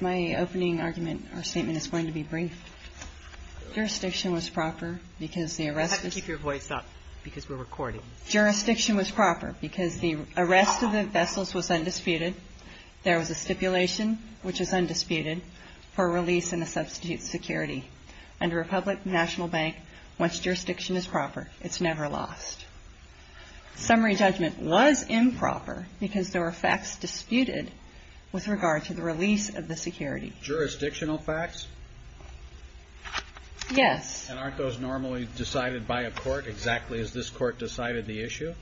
My opening argument or statement is going to be brief. Jurisdiction was proper because the arrest was... You have to keep your voice up because we're recording. Jurisdiction was proper because the arrest of the vessels was undisputed. There was a stipulation, which was undisputed, for release and a substitute security. Under a public national bank, once jurisdiction is proper, it's never lost. Summary judgment was improper because there were facts disputed with regard to the release of the security. Jurisdictional facts? Yes. And aren't those normally decided by a court exactly as this court decided the issue?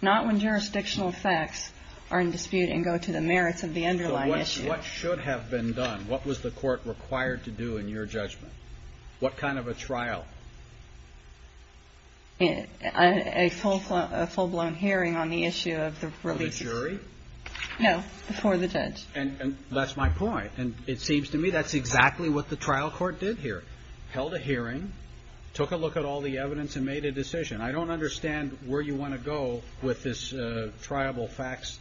Not when jurisdictional facts are in dispute and go to the merits of the underlying issue. So what should have been done? What was the court required to do in your judgment? What kind of a trial? A full-blown hearing on the issue of the release... Of the jury? No. For the judge. And that's my point. And it seems to me that's exactly what the trial court did here. Held a hearing, took a look at all the evidence, and made a decision. I don't understand where you want to go with this triable facts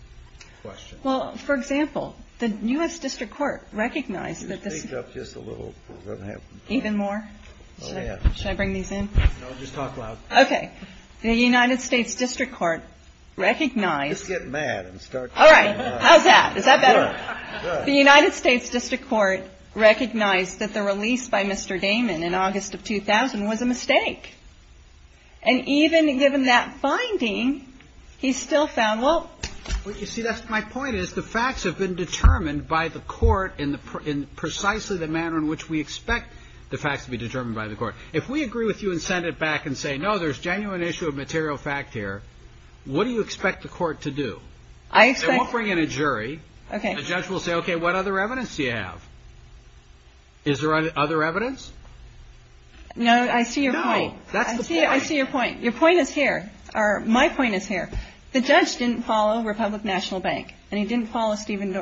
question. Well, for example, the U.S. District Court recognized that this... Could you speak up just a little? Even more? Oh, yeah. Should I bring these in? No, just talk loud. Okay. The United States District Court recognized... Just get mad and start... All right. How's that? Is that better? Good. The United States District Court recognized that the release by Mr. Damon in August of 2000 was a mistake. And even given that finding, he still found, well... Well, you see, that's my point, is the facts have been determined by the court in precisely the manner in which we expect the facts to be determined by the court. If we agree with you and send it back and say, no, there's genuine issue of material fact here, what do you expect the court to do? I expect... They won't bring in a jury. Okay. The judge will say, okay, what other evidence do you have? Is there other evidence? No, I see your point. No, that's the point. I see your point. Your point is here. My point is here. The judge didn't follow Republic National Bank. And he didn't follow Stephen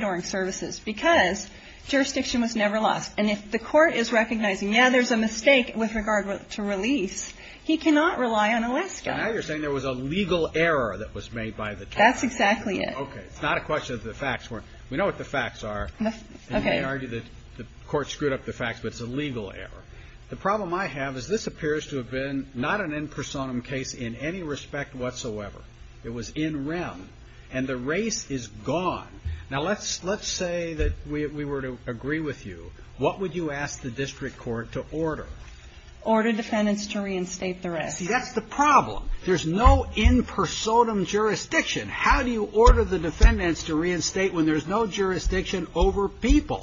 Doering Services because jurisdiction was never lost. And if the court is recognizing, yeah, there's a mistake with regard to release, he cannot rely on Alaska. Now you're saying there was a legal error that was made by the time... That's exactly it. Okay. It's not a question of the facts. We know what the facts are. Okay. And they argue that the court screwed up the facts, but it's a legal error. The problem I have is this appears to have been not an impersonum case in any respect whatsoever. It was in rem. And the race is gone. Now let's say that we were to agree with you. What would you ask the district court to order? Order defendants to reinstate the rest. See, that's the problem. There's no impersonum jurisdiction. How do you order the defendants to reinstate when there's no jurisdiction over people?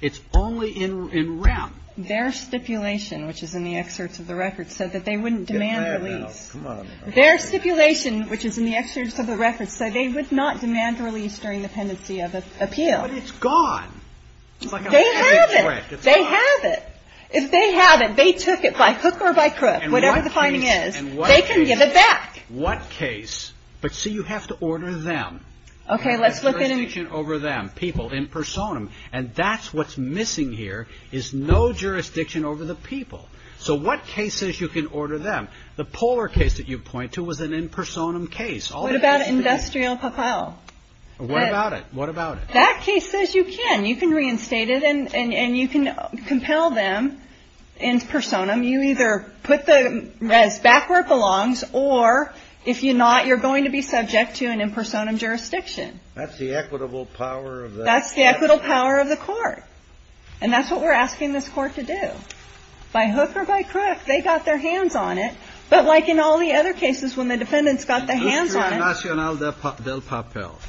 It's only in rem. Their stipulation, which is in the excerpts of the record, said that they wouldn't demand release. Get mad now. Come on. Their stipulation, which is in the excerpts of the record, said they would not demand release during the pendency of appeal. But it's gone. They have it. It's gone. They have it. If they have it, they took it by hook or by crook, whatever the finding is. And what case? They can give it back. What case? But see, you have to order them. Okay. Let's look at... No jurisdiction over them, people, impersonum. And that's what's missing here is no jurisdiction over the people. So what cases you can order them? The polar case that you point to was an impersonum case. What about industrial papel? What about it? What about it? That case says you can. You can reinstate it, and you can compel them in personam. You either put the res back where it belongs, or if you're not, you're going to be subject to an impersonum jurisdiction. That's the equitable power of the... That's the equitable power of the court. And that's what we're asking this court to do. By hook or by crook, they got their hands on it. But like in all the other cases, when the defendants got their hands on it...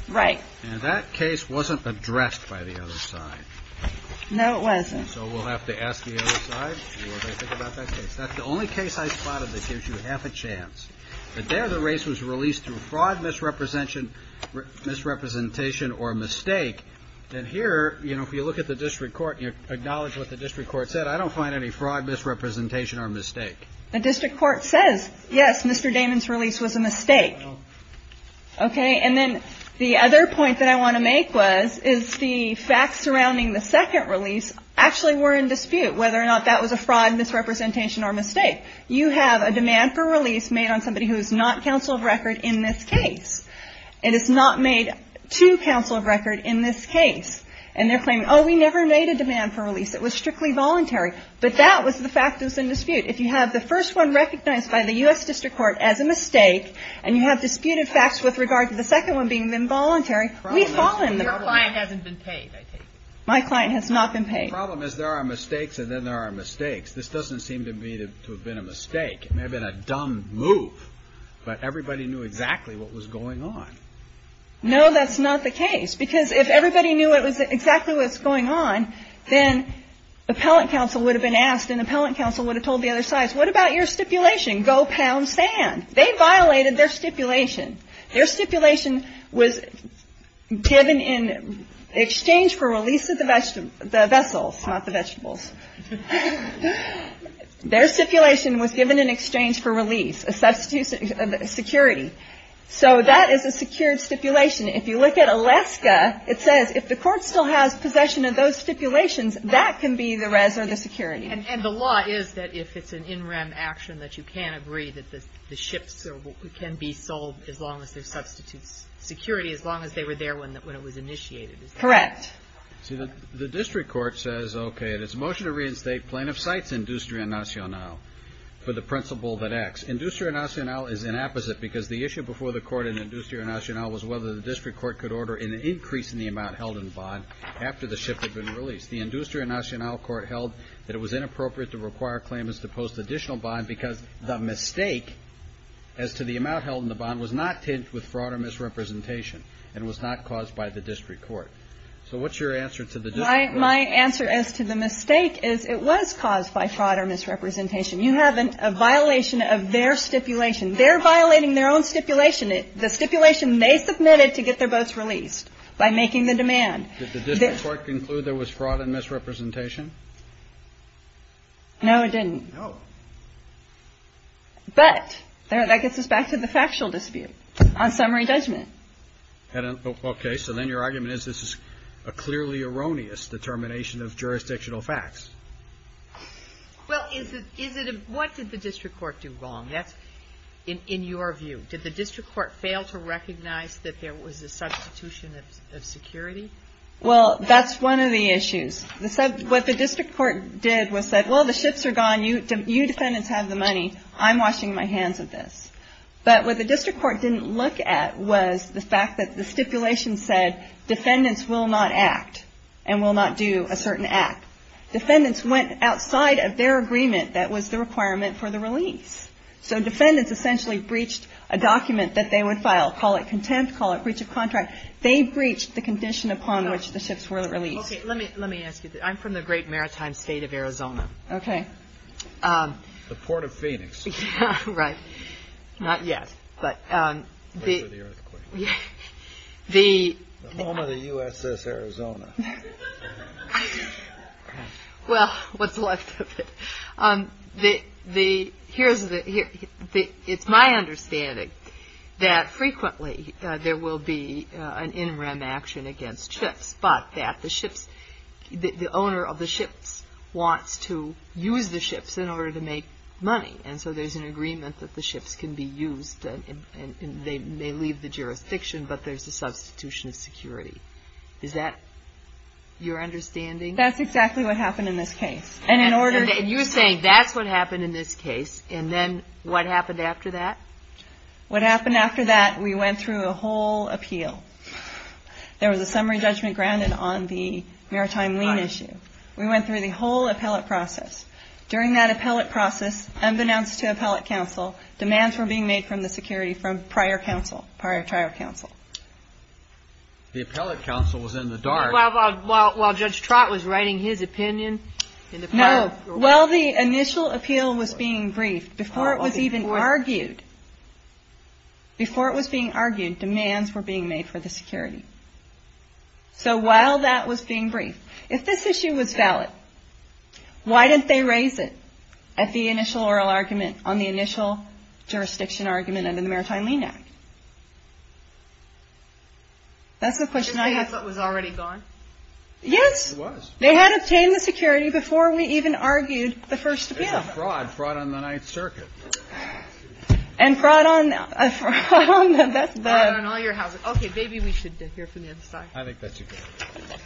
Right. And that case wasn't addressed by the other side. No, it wasn't. So we'll have to ask the other side what they think about that case. That's the only case I spotted that gives you half a chance. But there the race was released through fraud, misrepresentation, or a mistake. And here, you know, if you look at the district court and you acknowledge what the district court said, I don't find any fraud, misrepresentation, or mistake. The district court says, yes, Mr. Damon's release was a mistake. Okay. And then the other point that I want to make was, is the facts surrounding the second release actually were in dispute, whether or not that was a fraud, misrepresentation, or mistake. You have a demand for release made on somebody who is not counsel of record in this case. And it's not made to counsel of record in this case. And they're claiming, oh, we never made a demand for release. It was strictly voluntary. But that was the fact that was in dispute. If you have the first one recognized by the U.S. district court as a mistake and you have disputed facts with regard to the second one being involuntary, we fall in the middle. Your client hasn't been paid, I take it. My client has not been paid. The problem is there are mistakes and then there are mistakes. This doesn't seem to me to have been a mistake. It may have been a dumb move. But everybody knew exactly what was going on. No, that's not the case. Because if everybody knew exactly what was going on, then appellant counsel would have been asked and appellant counsel would have told the other sides, what about your stipulation? Go pound sand. They violated their stipulation. Their stipulation was given in exchange for release of the vessels, not the vegetables. Their stipulation was given in exchange for release, a substitute security. So that is a secured stipulation. If you look at Alaska, it says if the court still has possession of those stipulations, that can be the res or the security. And the law is that if it's an in rem action that you can't agree that the ships can be sold as long as there's substitute security, as long as they were there when it was initiated. Correct. See, the district court says, okay, it is a motion to reinstate plaintiff cites industria nacionale for the principle that acts. Industria nacionale is an apposite because the issue before the court in industria nacionale was whether the district court could order an increase in the amount held in the bond after the ship had been released. The industria nacionale court held that it was inappropriate to require claimants to post additional bond because the mistake as to the amount held in the bond was not tinged with fraud or misrepresentation and was not caused by the district court. So what's your answer to the district court? My answer as to the mistake is it was caused by fraud or misrepresentation. You have a violation of their stipulation. They're violating their own stipulation. The stipulation they submitted to get their boats released by making the demand. Did the district court conclude there was fraud and misrepresentation? No, it didn't. No. But that gets us back to the factual dispute on summary judgment. Okay. So then your argument is this is a clearly erroneous determination of jurisdictional facts. Well, what did the district court do wrong? That's in your view. Did the district court fail to recognize that there was a substitution of security? Well, that's one of the issues. What the district court did was said, well, the ships are gone. You defendants have the money. I'm washing my hands of this. But what the district court didn't look at was the fact that the stipulation said defendants will not act and will not do a certain act. Defendants went outside of their agreement. That was the requirement for the release. So defendants essentially breached a document that they would file. Call it contempt. Call it breach of contract. They breached the condition upon which the ships were released. Let me let me ask you. I'm from the great maritime state of Arizona. Okay. The Port of Phoenix. Right. Not yet. The home of the USS Arizona. Well, what's left of it. It's my understanding that frequently there will be an in rem action against ships, but that the owner of the ships wants to use the ships in order to make money. And so there's an agreement that the ships can be used. They may leave the jurisdiction, but there's a substitution of security. Is that your understanding? That's exactly what happened in this case. And you're saying that's what happened in this case, and then what happened after that? What happened after that, we went through a whole appeal. There was a summary judgment grounded on the maritime lien issue. We went through the whole appellate process. During that appellate process, unbeknownst to appellate counsel, demands were being made from the security from prior counsel, prior trial counsel. The appellate counsel was in the dark. While Judge Trott was writing his opinion. No. While the initial appeal was being briefed, before it was even argued, before it was being argued, demands were being made for the security. So while that was being briefed, if this issue was valid, why didn't they raise it at the initial oral argument on the initial jurisdiction argument under the Maritime Lien Act? That's the question I have. Because the appellate was already gone? Yes. It was. They had obtained the security before we even argued the first appeal. It was a fraud. Fraud on the Ninth Circuit. And fraud on the best bet. Fraud on all your houses. Okay. Maybe we should hear from the other side. I think that's a good idea.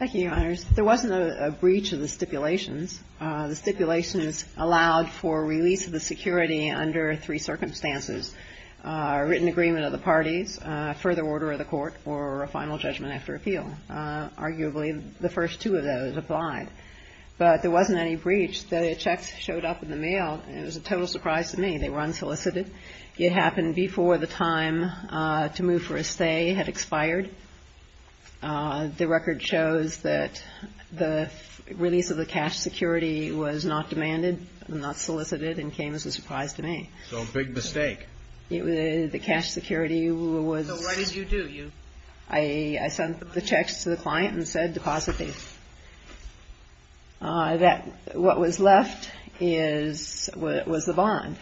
Thank you, Your Honors. There wasn't a breach of the stipulations. The stipulations allowed for release of the security under three circumstances, a written agreement of the parties, a further order of the court, or a final judgment after appeal. Arguably, the first two of those applied. But there wasn't any breach. The checks showed up in the mail. It was a total surprise to me. They were unsolicited. It happened before the time to move for a stay had expired. The record shows that the release of the cash security was not demanded, not solicited, and came as a surprise to me. So a big mistake. The cash security was So what did you do? I sent the checks to the client and said deposit these. What was left was the bond.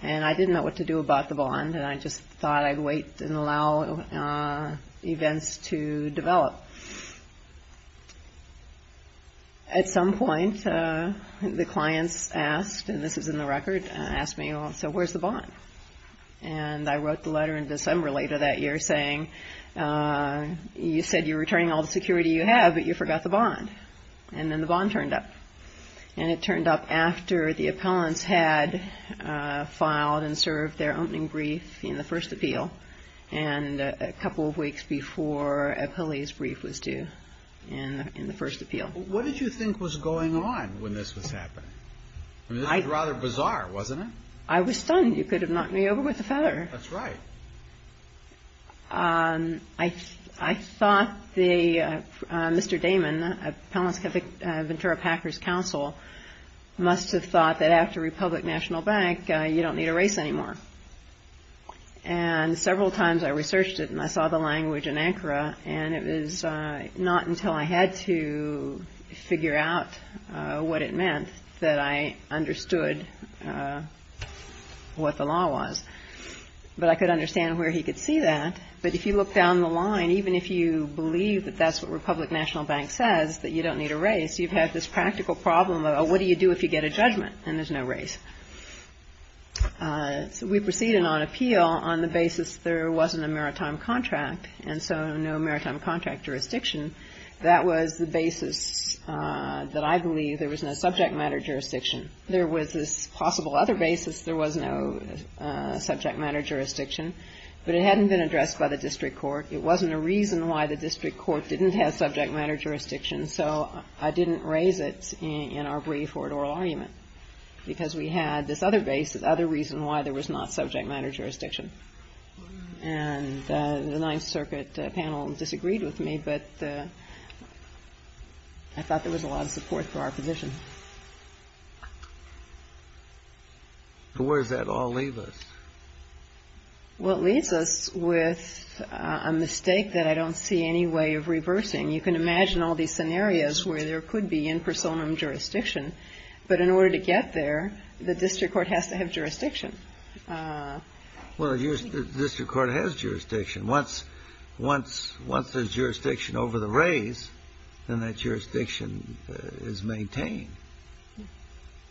And I didn't know what to do about the bond. And I just thought I'd wait and allow events to develop. At some point, the clients asked, and this is in the record, asked me, so where's the bond? And I wrote the letter in December later that year saying, you said you're returning all the security you have, but you forgot the bond. And then the bond turned up. And it turned up after the appellants had filed and served their opening brief in the first appeal, and a couple of weeks before Abhilay's brief was due, in the first appeal. What did you think was going on when this was happening? I mean, this was rather bizarre, wasn't it? I was stunned. You could have knocked me over with a feather. That's right. I thought Mr. Damon, Appellant's Ventura Packers Counsel, must have thought that after Republic National Bank, you don't need a race anymore. And several times I researched it and I saw the language in Ankara, and it was not until I had to figure out what it meant that I understood what the law was. But I could understand where he could see that. But if you look down the line, even if you believe that that's what Republic National Bank says, that you don't need a race, you have this practical problem of what do you do if you get a judgment and there's no race? So we proceeded on appeal on the basis there wasn't a maritime contract, and so no maritime contract jurisdiction. That was the basis that I believe there was no subject matter jurisdiction. There was this possible other basis there was no subject matter jurisdiction, but it hadn't been addressed by the district court. It wasn't a reason why the district court didn't have subject matter jurisdiction, so I didn't raise it in our brief or oral argument, because we had this other reason why there was not subject matter jurisdiction. And the Ninth Circuit panel disagreed with me, but I thought there was a lot of support for our position. Where does that all leave us? Well, it leaves us with a mistake that I don't see any way of reversing. You can imagine all these scenarios where there could be in personam jurisdiction, but in order to get there, the district court has to have jurisdiction. Well, the district court has jurisdiction. Once there's jurisdiction over the raise, then that jurisdiction is maintained.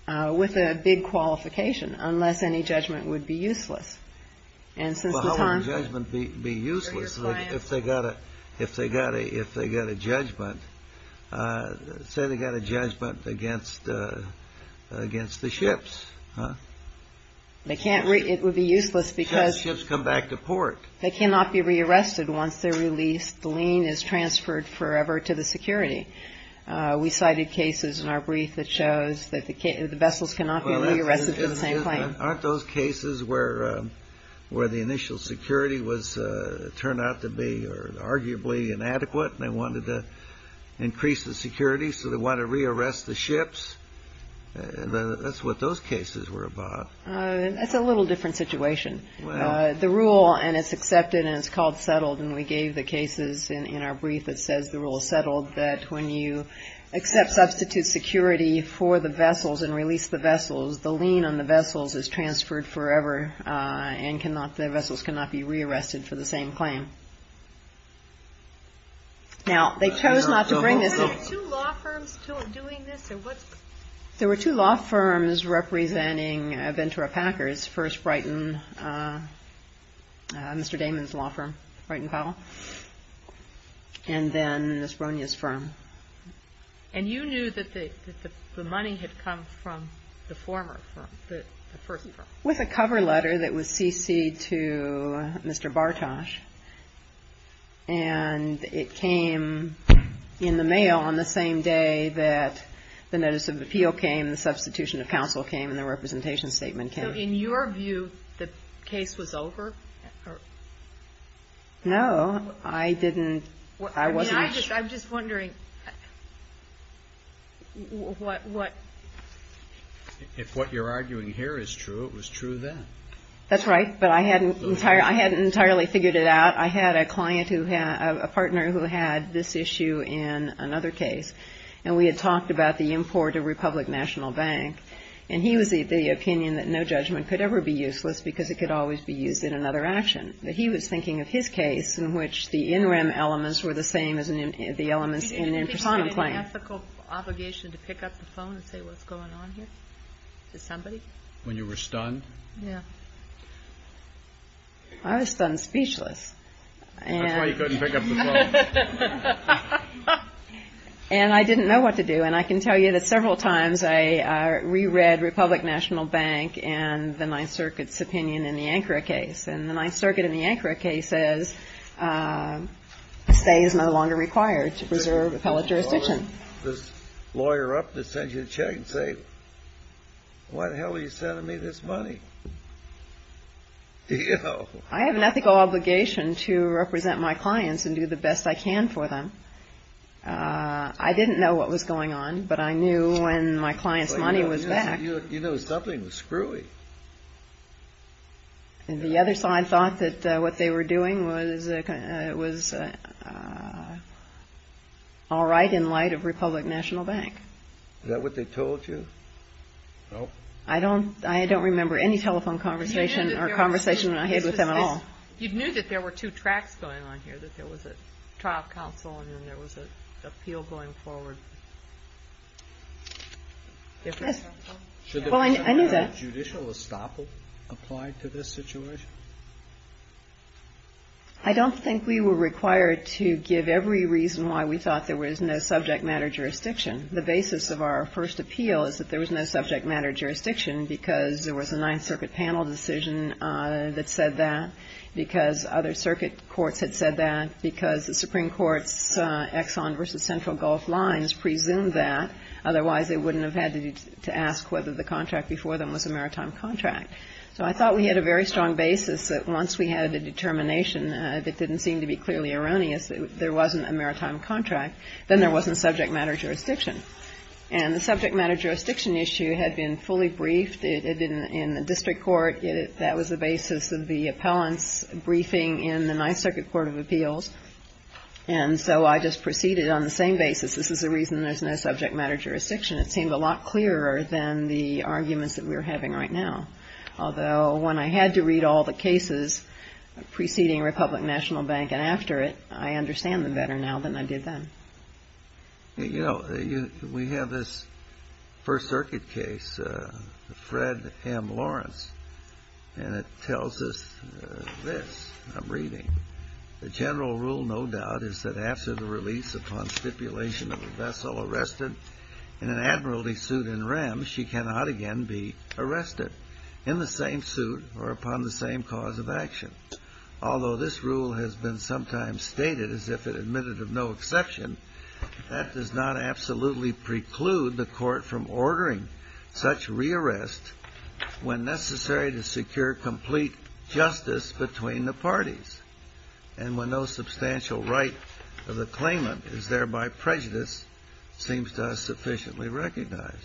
With a big qualification, unless any judgment would be useless. Well, how would judgment be useless if they got a judgment? Say they got a judgment against the ships. It would be useless because they cannot be reused. They cannot be re-arrested once they're released. The lien is transferred forever to the security. We cited cases in our brief that shows that the vessels cannot be re-arrested for the same claim. Aren't those cases where the initial security turned out to be arguably inadequate and they wanted to increase the security, so they wanted to re-arrest the ships? That's what those cases were about. That's a little different situation. The rule, and it's accepted and it's called settled, and we gave the cases in our brief that says the rule is settled, that when you accept substitute security for the vessels and release the vessels, the lien on the vessels is transferred forever and the vessels cannot be re-arrested for the same claim. Now, they chose not to bring this up. Were there two law firms doing this? There were two law firms representing Ventura Packers. First, Brighton, Mr. Damon's law firm, Brighton Powell, and then Ms. Bronia's firm. And you knew that the money had come from the former firm, the first firm? With a cover letter that was cc'd to Mr. Bartosz, and it came in the mail on the same day that the notice of appeal came, the substitution of counsel came, and the representation statement came. So in your view, the case was over? No, I didn't. I mean, I'm just wondering what? If what you're arguing here is true, it was true then. That's right, but I hadn't entirely figured it out. I had a client who had, a partner who had this issue in another case, and we had talked about the import of Republic National Bank, and he was of the opinion that no judgment could ever be useless because it could always be used in another action. But he was thinking of his case in which the in-rem elements were the same as the elements in a prosonim claim. Do you think it's an ethical obligation to pick up the phone and say what's going on here to somebody? When you were stunned? Yeah. I was stunned speechless. That's why you couldn't pick up the phone. And I didn't know what to do. And I can tell you that several times I reread Republic National Bank and the Ninth Circuit's opinion in the Ankara case, and the Ninth Circuit in the Ankara case says a stay is no longer required to preserve appellate jurisdiction. You can't call this lawyer up to send you a check and say, why the hell are you sending me this money? I have an ethical obligation to represent my clients and do the best I can for them. I didn't know what was going on, but I knew when my client's money was back. You knew something was screwy. And the other side thought that what they were doing was all right in light of Republic National Bank. Is that what they told you? I don't remember any telephone conversation or conversation I had with them at all. You knew that there were two tracks going on here, that there was a trial counsel and then there was an appeal going forward. Well, I knew that. Judicial estoppel applied to this situation? I don't think we were required to give every reason why we thought there was no subject matter jurisdiction. The basis of our first appeal is that there was no subject matter jurisdiction because there was a Ninth Circuit panel decision that said that, because other circuit courts had said that, because the Supreme Court's Exxon v. Central Gulf Lines presumed that. Otherwise, they wouldn't have had to ask whether the contract before them was a maritime contract. So I thought we had a very strong basis that once we had a determination that didn't seem to be clearly erroneous, that there wasn't a maritime contract, then there wasn't subject matter jurisdiction. And the subject matter jurisdiction issue had been fully briefed in the district court. That was the basis of the appellant's briefing in the Ninth Circuit Court of Appeals. And so I just proceeded on the same basis. This is the reason there's no subject matter jurisdiction. It seemed a lot clearer than the arguments that we were having right now. Although when I had to read all the cases preceding Republic National Bank and after it, I understand them better now than I did then. You know, we have this First Circuit case, Fred M. Lawrence, and it tells us this. I'm reading. The general rule, no doubt, is that after the release upon stipulation of a vessel arrested in an admiralty suit in rem, she cannot again be arrested in the same suit or upon the same cause of action. Although this rule has been sometimes stated as if it admitted of no exception, that does not absolutely preclude the court from ordering such re-arrest when necessary to secure complete justice between the parties. And when no substantial right of the claimant is thereby prejudiced, it seems to us sufficiently recognized.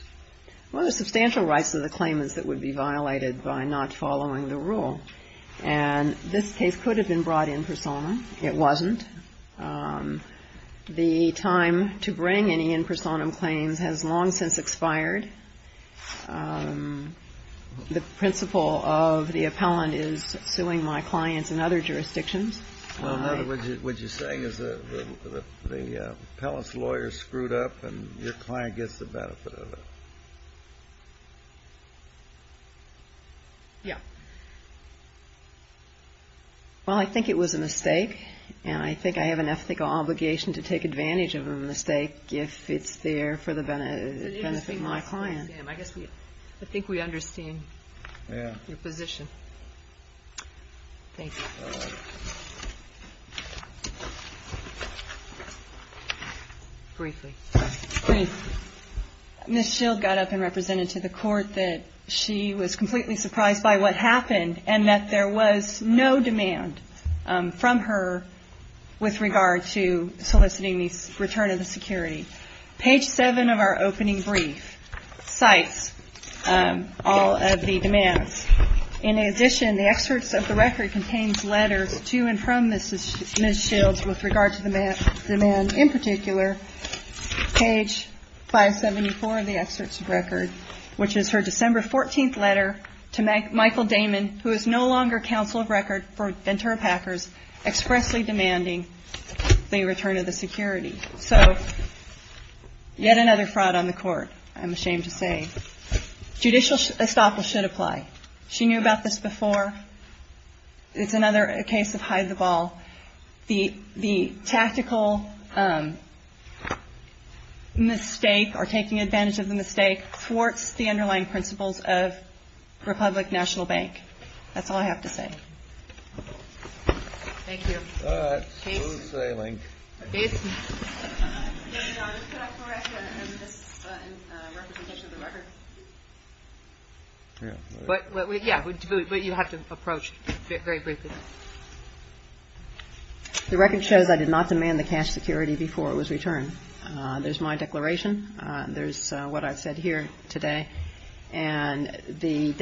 Well, the substantial rights of the claimants that would be violated by not following the rule. And this case could have been brought in personam. It wasn't. The time to bring any in personam claims has long since expired. The principle of the appellant is suing my clients in other jurisdictions. Well, in other words, what you're saying is the appellant's lawyer screwed up and your client gets the benefit of it. Yeah. Well, I think it was a mistake. And I think I have an ethical obligation to take advantage of a mistake if it's there for the benefit of my client. I think we understand your position. Thank you. Briefly. Briefly. Ms. Shield got up and represented to the court that she was completely surprised by what happened and that there was no demand from her with regard to soliciting the return of the security. Page 7 of our opening brief cites all of the demands. In addition, the excerpts of the record contains letters to and from Ms. Shield with regard to the demand. In particular, page 574 of the excerpts of record, which is her December 14th letter to Michael Damon, who is no longer counsel of record for Ventura Packers, expressly demanding the return of the security. So yet another fraud on the court, I'm ashamed to say. Judicial estoppel should apply. She knew about this before. It's another case of hide the ball. The tactical mistake or taking advantage of the mistake thwarts the underlying principles of Republic National Bank. That's all I have to say. Thank you. But you have to approach it very briefly. The record shows I did not demand the cash security before it was returned. There's my declaration. There's what I've said here today. And the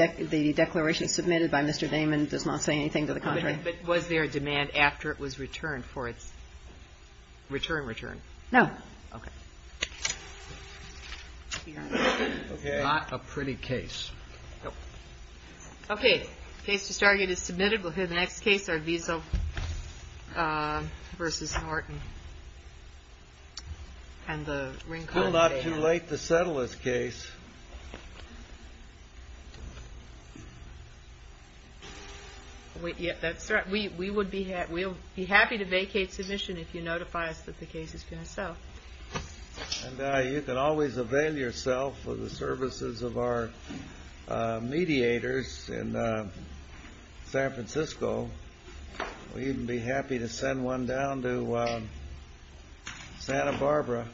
declaration submitted by Mr. Damon does not say anything to the contrary. But was there a demand after it was returned for its return return? No. Okay. Not a pretty case. Okay. Case to start is submitted. We'll hear the next case, Arvizo versus Norton. And the ring call. Still not too late to settle this case. We'll be happy to vacate submission if you notify us that the case is going to sell. And you can always avail yourself of the services of our mediators in San Francisco. We'd be happy to send one down to Santa Barbara.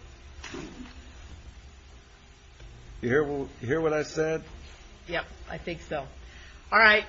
You hear what I said? Yep. I think so. All right.